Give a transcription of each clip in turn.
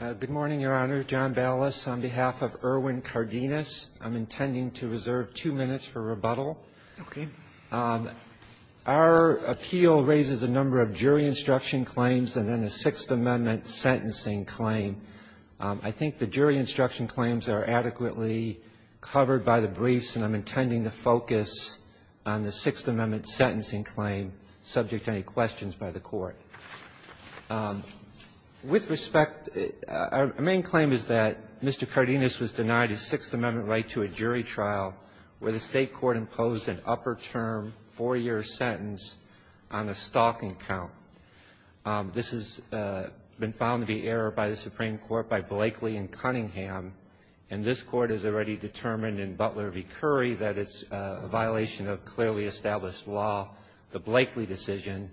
Good morning, Your Honor. John Ballas on behalf of Erwin Cardenas. I'm intending to reserve two minutes for rebuttal. Okay. Our appeal raises a number of jury instruction claims and then a Sixth Amendment sentencing claim. I think the jury instruction claims are adequately covered by the briefs, and I'm intending to focus on the Sixth Amendment sentencing claim subject to any questions by the Court. With respect, our main claim is that Mr. Cardenas was denied his Sixth Amendment right to a jury trial where the State court imposed an upper-term, four-year sentence on a stalking count. This has been found to be error by the Supreme Court by Blakely and Cunningham, and this Court has already determined in Butler v. Curry that it's a violation of clearly established law, the Blakely decision,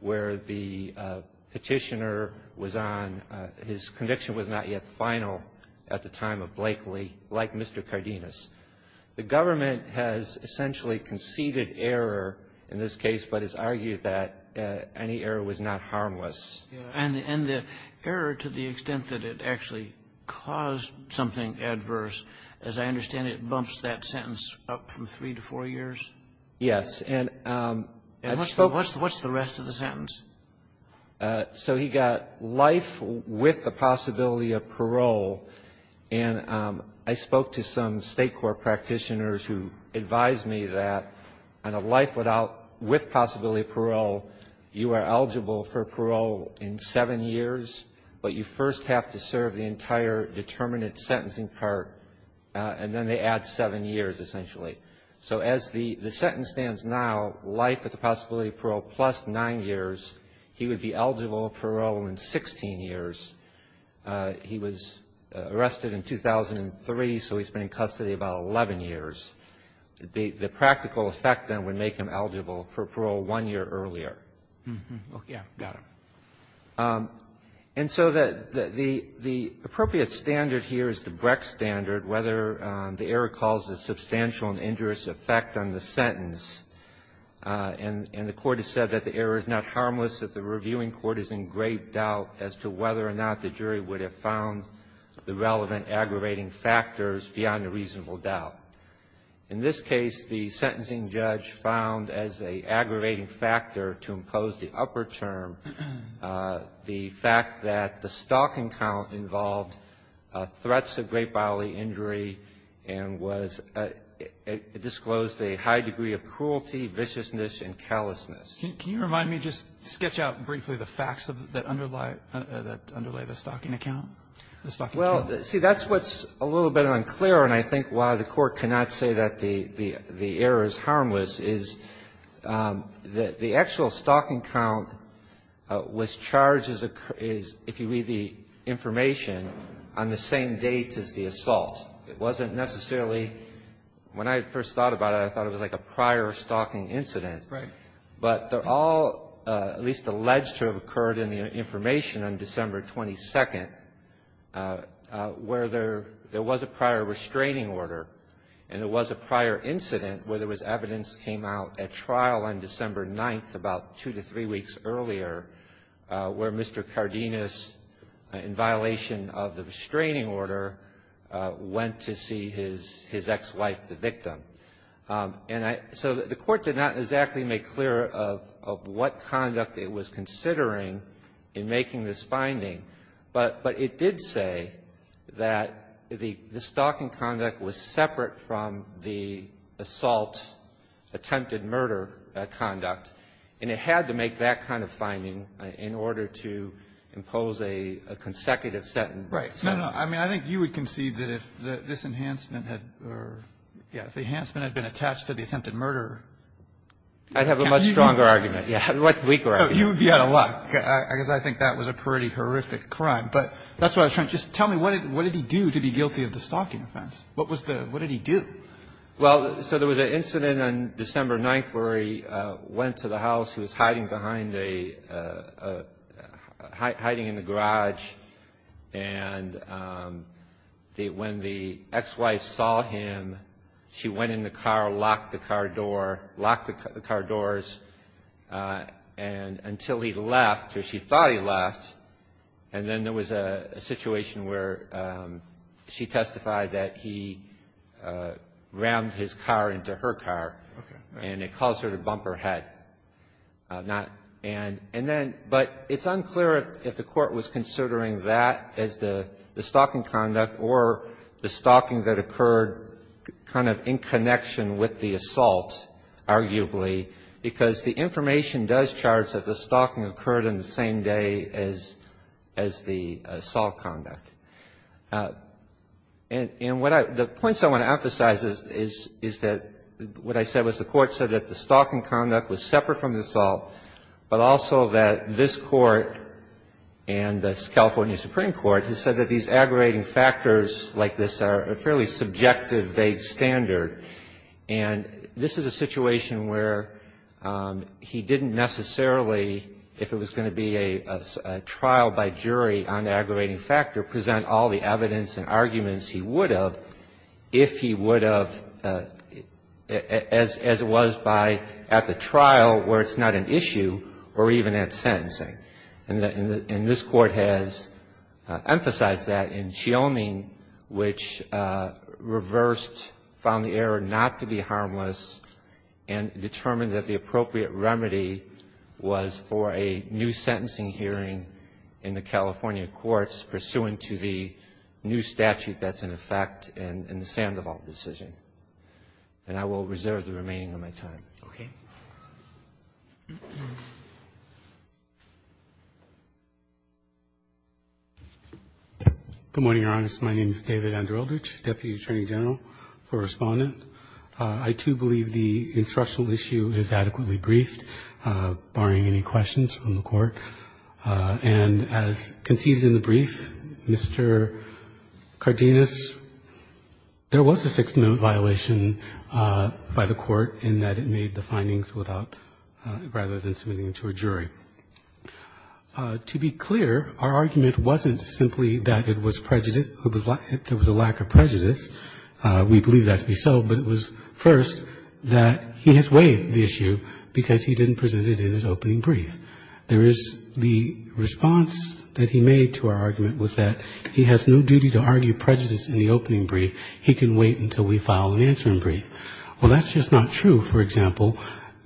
where the Petitioner was on. His conviction was not yet final at the time of Blakely, like Mr. Cardenas. The government has essentially conceded error in this case, but has argued that any error was not harmless. And the error to the extent that it actually caused something adverse, as I understand it, bumps that sentence up from three to four years? Yes. And I've spoken to some State court practitioners who advised me that on a life without the possibility of parole, you are eligible for parole in seven years, but you first have to serve the entire determinate sentencing part, and then they add seven years, The sentence stands now, life with the possibility of parole plus nine years. He would be eligible for parole in 16 years. He was arrested in 2003, so he's been in custody about 11 years. The practical effect, then, would make him eligible for parole one year earlier. Okay. Got it. And so the appropriate standard here is the Brecht standard. Whether the error caused a substantial and injurious effect on the sentence, and the Court has said that the error is not harmless, that the reviewing court is in great doubt as to whether or not the jury would have found the relevant aggravating factors beyond a reasonable doubt. In this case, the sentencing judge found as an aggravating factor to impose the upper term the fact that the stalking count involved threats of great bodily injury and was disclosed a high degree of cruelty, viciousness, and callousness. Can you remind me, just sketch out briefly the facts that underlie the stalking account, the stalking count? Well, see, that's what's a little bit unclear, and I think why the Court cannot say that the error is harmless is that the actual stalking count was charged as a, if you read the information, on the same date as the assault. It wasn't necessarily, when I first thought about it, I thought it was like a prior stalking incident. Right. But they're all at least alleged to have occurred in the information on December 22nd, where there was a prior restraining order, and there was a prior incident where there was evidence that came out at trial on December 9th, about two to three weeks earlier, where Mr. Cardenas, in violation of the restraining order, went to see his ex-wife, the victim. So the Court did not exactly make clear of what conduct it was considering in making this finding. But it did say that the stalking conduct was separate from the assault attempted murder conduct, and it had to make that kind of finding in order to impose a consecutive sentence. Right. No, no. I mean, I think you would concede that if this enhancement had been attached to the attempted murder. I'd have a much stronger argument. Yeah. A weaker argument. You would be out of luck, because I think that was a pretty horrific crime. But that's what I was trying to just tell me. What did he do to be guilty of the stalking offense? What was the – what did he do? Well, so there was an incident on December 9th where he went to the house. He was hiding behind a – hiding in the garage. And when the ex-wife saw him, she went in the car, locked the car door, locked the car doors, and until he left, or she thought he left, and then there was a situation where she testified that he rammed his car into her car. Okay. And it caused her to bump her head. And then – but it's unclear if the court was considering that as the stalking conduct or the stalking that occurred kind of in connection with the assault, arguably, because the information does charge that the stalking occurred on the same day as the assault conduct. And what I – the points I want to emphasize is that what I said was the court said that the stalking conduct was separate from the assault, but also that this Court and the California Supreme Court has said that these aggravating factors like this are a fairly subjective, vague standard. And this is a situation where he didn't necessarily, if it was going to be a trial by jury on the aggravating factor, present all the evidence and arguments he would have if he would have, as it was by – at the trial where it's not an issue, or even at sentencing. And this Court has emphasized that in Chioming, which reversed, found the error not to be harmless, and determined that the appropriate remedy was for a new sentencing hearing in the California courts pursuant to the new statute that's in effect and the Sandoval decision. And I will reserve the remaining of my time. Okay. Good morning, Your Honor. My name is David Andreldich, Deputy Attorney General for Respondent. I, too, believe the instructional issue is adequately briefed, barring any questions from the Court. And as conceded in the brief, Mr. Cardenas, there was a Sixth Amendment violation by the Court in that it made the findings without – rather than submitting to a jury. To be clear, our argument wasn't simply that it was prejudice – there was a lack of prejudice. We believe that to be so, but it was, first, that he has weighed the issue because he didn't present it in his opening brief. There is the response that he made to our argument was that he has no duty to argue prejudice in the opening brief. He can wait until we file an answering brief. Well, that's just not true, for example,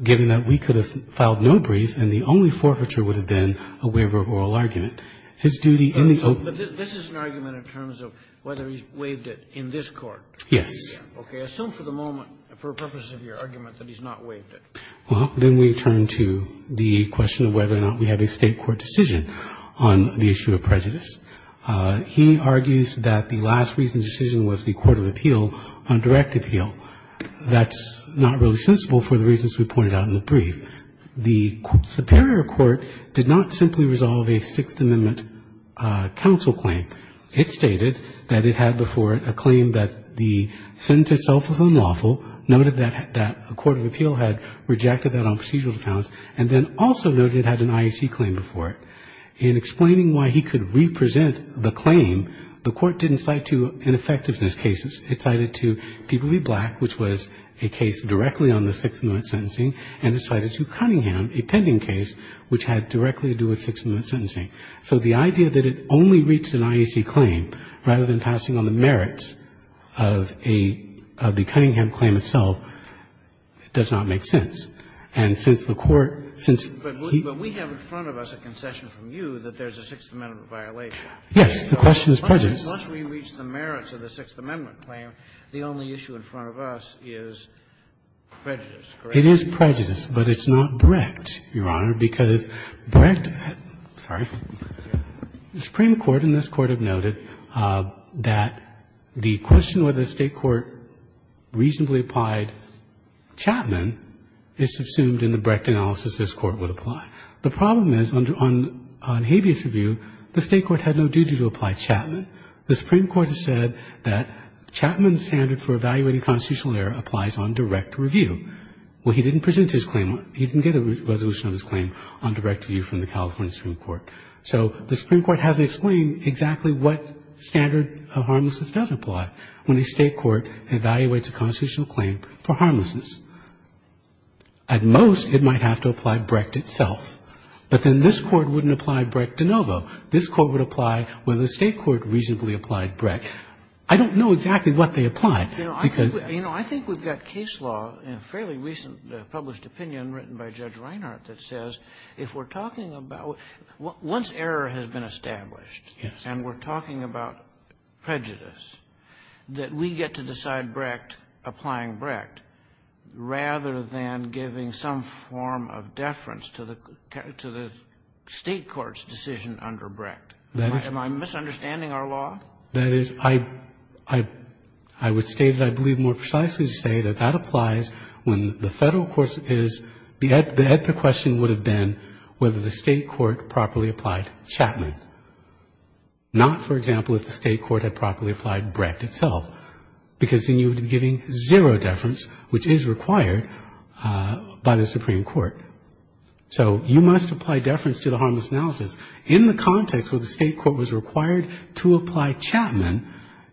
given that we could have filed no brief and the only forfeiture would have been a waiver of oral argument. His duty in the opening – But this is an argument in terms of whether he's waived it in this Court. Yes. Okay. Assume for the moment, for purposes of your argument, that he's not waived it. Well, then we turn to the question of whether or not we have a State court decision on the issue of prejudice. He argues that the last recent decision was the court of appeal on direct appeal. That's not really sensible for the reasons we pointed out in the brief. The superior court did not simply resolve a Sixth Amendment counsel claim. It stated that it had before it a claim that the sentence itself was unlawful, noted that the court of appeal had rejected that on procedural grounds, and then also noted it had an IEC claim before it. In explaining why he could represent the claim, the court didn't cite to ineffectiveness cases. It cited to People v. Black, which was a case directly on the Sixth Amendment sentencing, and it cited to Cunningham, a pending case, which had directly to do with Sixth Amendment sentencing. So the idea that it only reached an IEC claim rather than passing on the merits of a of the Cunningham claim itself does not make sense. And since the court – since he – But we have in front of us a concession from you that there's a Sixth Amendment violation. Yes. The question is prejudice. Once we reach the merits of the Sixth Amendment claim, the only issue in front of us is prejudice, correct? It is prejudice, but it's not direct, Your Honor, because direct – sorry. The Supreme Court and this Court have noted that the question whether the State Court reasonably applied Chapman is subsumed in the Brecht analysis this Court would apply. The problem is on habeas review, the State Court had no duty to apply Chapman. The Supreme Court has said that Chapman's standard for evaluating constitutional error applies on direct review. Well, he didn't present his claim on – he didn't get a resolution of his claim on direct review from the California Supreme Court. So the Supreme Court hasn't explained exactly what standard of harmlessness does apply when a State court evaluates a constitutional claim for harmlessness. At most, it might have to apply Brecht itself. But then this Court wouldn't apply Brecht de novo. This Court would apply whether the State court reasonably applied Brecht. I don't know exactly what they applied. You know, I think we've got case law in a fairly recent published opinion written by Judge Reinhart that says if we're talking about – once error has been established and we're talking about prejudice, that we get to decide Brecht, applying Brecht, rather than giving some form of deference to the State court's decision under Brecht. Am I misunderstanding our law? That is, I would state that I believe more precisely to say that that applies when the Federal court is – the epic question would have been whether the State court properly applied Chapman, not, for example, if the State court had properly applied Brecht itself, because then you would be giving zero deference, which is required by the Supreme Court. So you must apply deference to the harmless analysis. In the context where the State court was required to apply Chapman,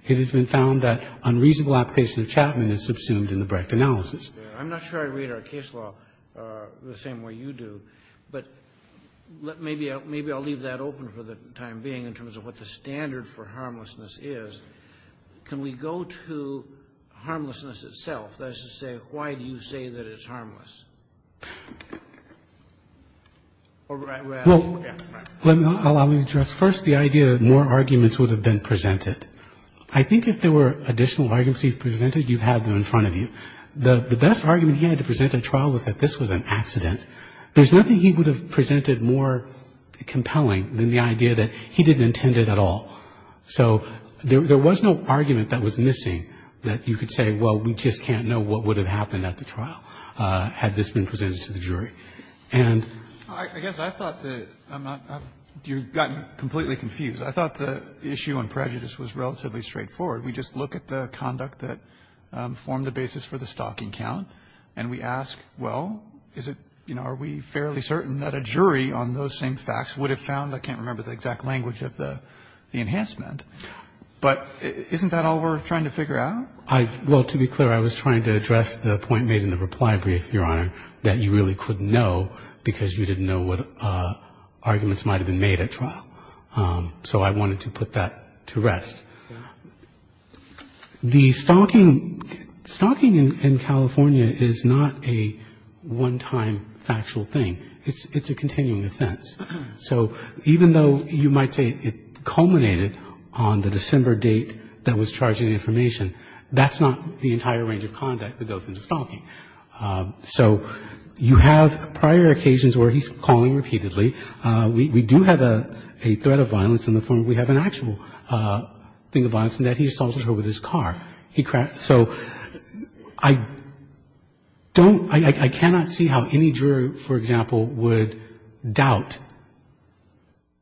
it has been found that unreasonable application of Chapman is subsumed in the Brecht analysis. Kennedy. I'm not sure I read our case law the same way you do, but maybe I'll leave that open for the time being in terms of what the standard for harmlessness is. Can we go to harmlessness itself? That is to say, why do you say that it's harmless? Well, let me address first the idea that more arguments would have been presented I think if there were additional arguments he presented, you'd have them in front of you. The best argument he had to present at trial was that this was an accident. There's nothing he would have presented more compelling than the idea that he didn't intend it at all. So there was no argument that was missing that you could say, well, we just can't know what would have happened at the trial had this been presented to the jury. And I guess I thought that I'm not – you've gotten completely confused. I thought the issue on prejudice was relatively straightforward. We just look at the conduct that formed the basis for the stalking count, and we ask, well, is it – are we fairly certain that a jury on those same facts would have found – I can't remember the exact language of the enhancement. But isn't that all we're trying to figure out? Well, to be clear, I was trying to address the point made in the reply brief, Your Honor, that you really couldn't know because you didn't know what arguments might have been made at trial. So I wanted to put that to rest. The stalking – stalking in California is not a one-time factual thing. It's a continuing offense. So even though you might say it culminated on the December date that was charging information, that's not the entire range of conduct that goes into stalking. So you have prior occasions where he's calling repeatedly. We do have a threat of violence in the form we have an actual thing of violence in that he assaulted her with his car. So I don't – I cannot see how any jury, for example, would doubt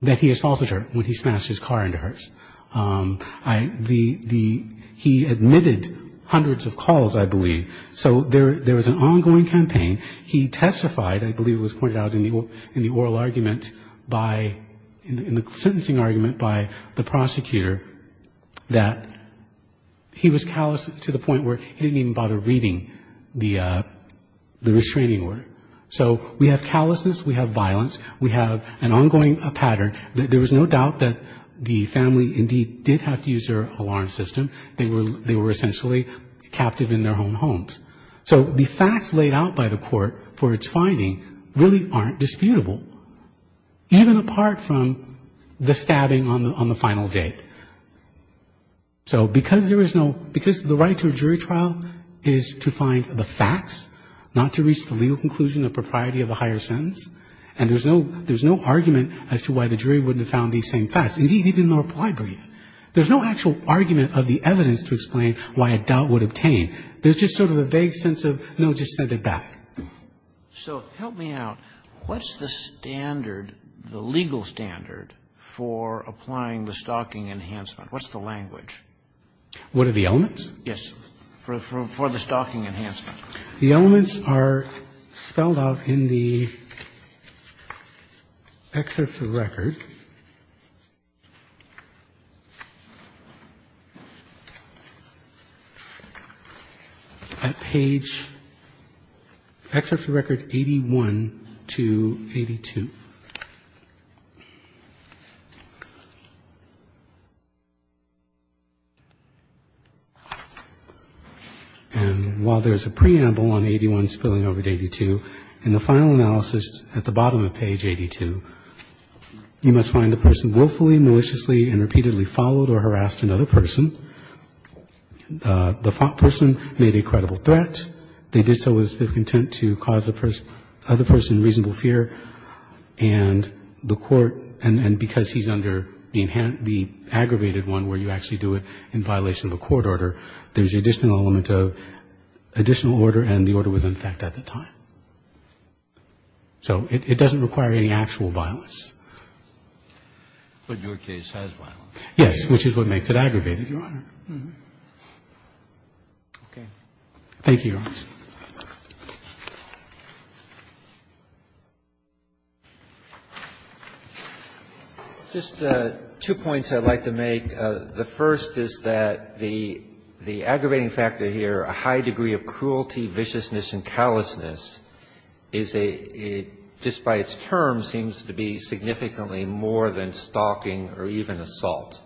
that he assaulted her when he smashed his car into hers. The – he admitted hundreds of calls, I believe. So there was an ongoing campaign. He testified, I believe it was pointed out in the oral argument by – in the sentencing argument by the prosecutor that he was callous to the point where he didn't even bother reading the restraining order. So we have callousness, we have violence, we have an ongoing pattern. There was no doubt that the family indeed did have to use their alarm system. They were essentially captive in their own homes. So the facts laid out by the court for its finding really aren't disputable, even apart from the stabbing on the final date. So because there is no – because the right to a jury trial is to find the facts, not to reach the legal conclusion of propriety of a higher sentence, and there's no – there's no argument as to why the jury wouldn't have found these same facts. Indeed, even the reply brief. There's no actual argument of the evidence to explain why a doubt would obtain. There's just sort of a vague sense of, no, just send it back. So help me out. What's the standard, the legal standard, for applying the stalking enhancement? What's the language? What are the elements? For the stalking enhancement. The elements are spelled out in the excerpt of the record at page – excerpt of the record 81 to 82. And while there's a preamble on 81 spilling over to 82, in the final analysis at the bottom of page 82, you must find the person willfully, maliciously, and repeatedly followed or harassed another person. The person made a credible threat. They did so with the intent to cause the other person reasonable fear. And the court, and because he's under the aggravated one where you actually do it in violation of a court order, there's the additional element of additional order, and the order was in effect at the time. So it doesn't require any actual violence. But your case has violence. Yes, which is what makes it aggravated, Your Honor. Okay. Thank you, Your Honor. Just two points I'd like to make. The first is that the aggravating factor here, a high degree of cruelty, viciousness, and callousness, is a – just by its term seems to be significantly more than stalking or even assault.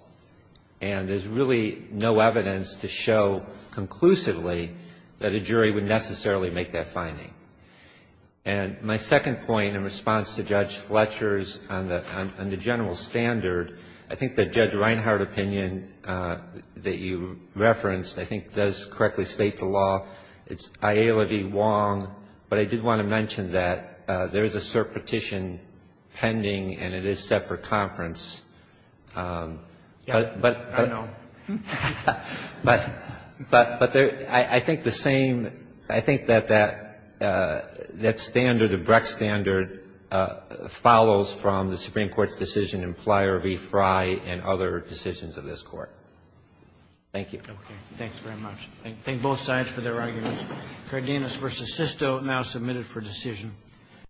And there's really no evidence to show conclusively that a jury would necessarily make that finding. And my second point in response to Judge Fletcher's on the general standard, I think that Judge Reinhardt opinion that you referenced, I think, does correctly state the law. It's IA-Levy-Wong, but I did want to mention that there is a cert petition pending and it is set for conference. Yeah. I know. But I think the same – I think that that standard, the Breck standard, follows from the Supreme Court's decision in Pleyer v. Fry and other decisions of this Court. Thank you. Okay. Thanks very much. Thank both sides for their arguments. Cardenas v. Sisto now submitted for decision.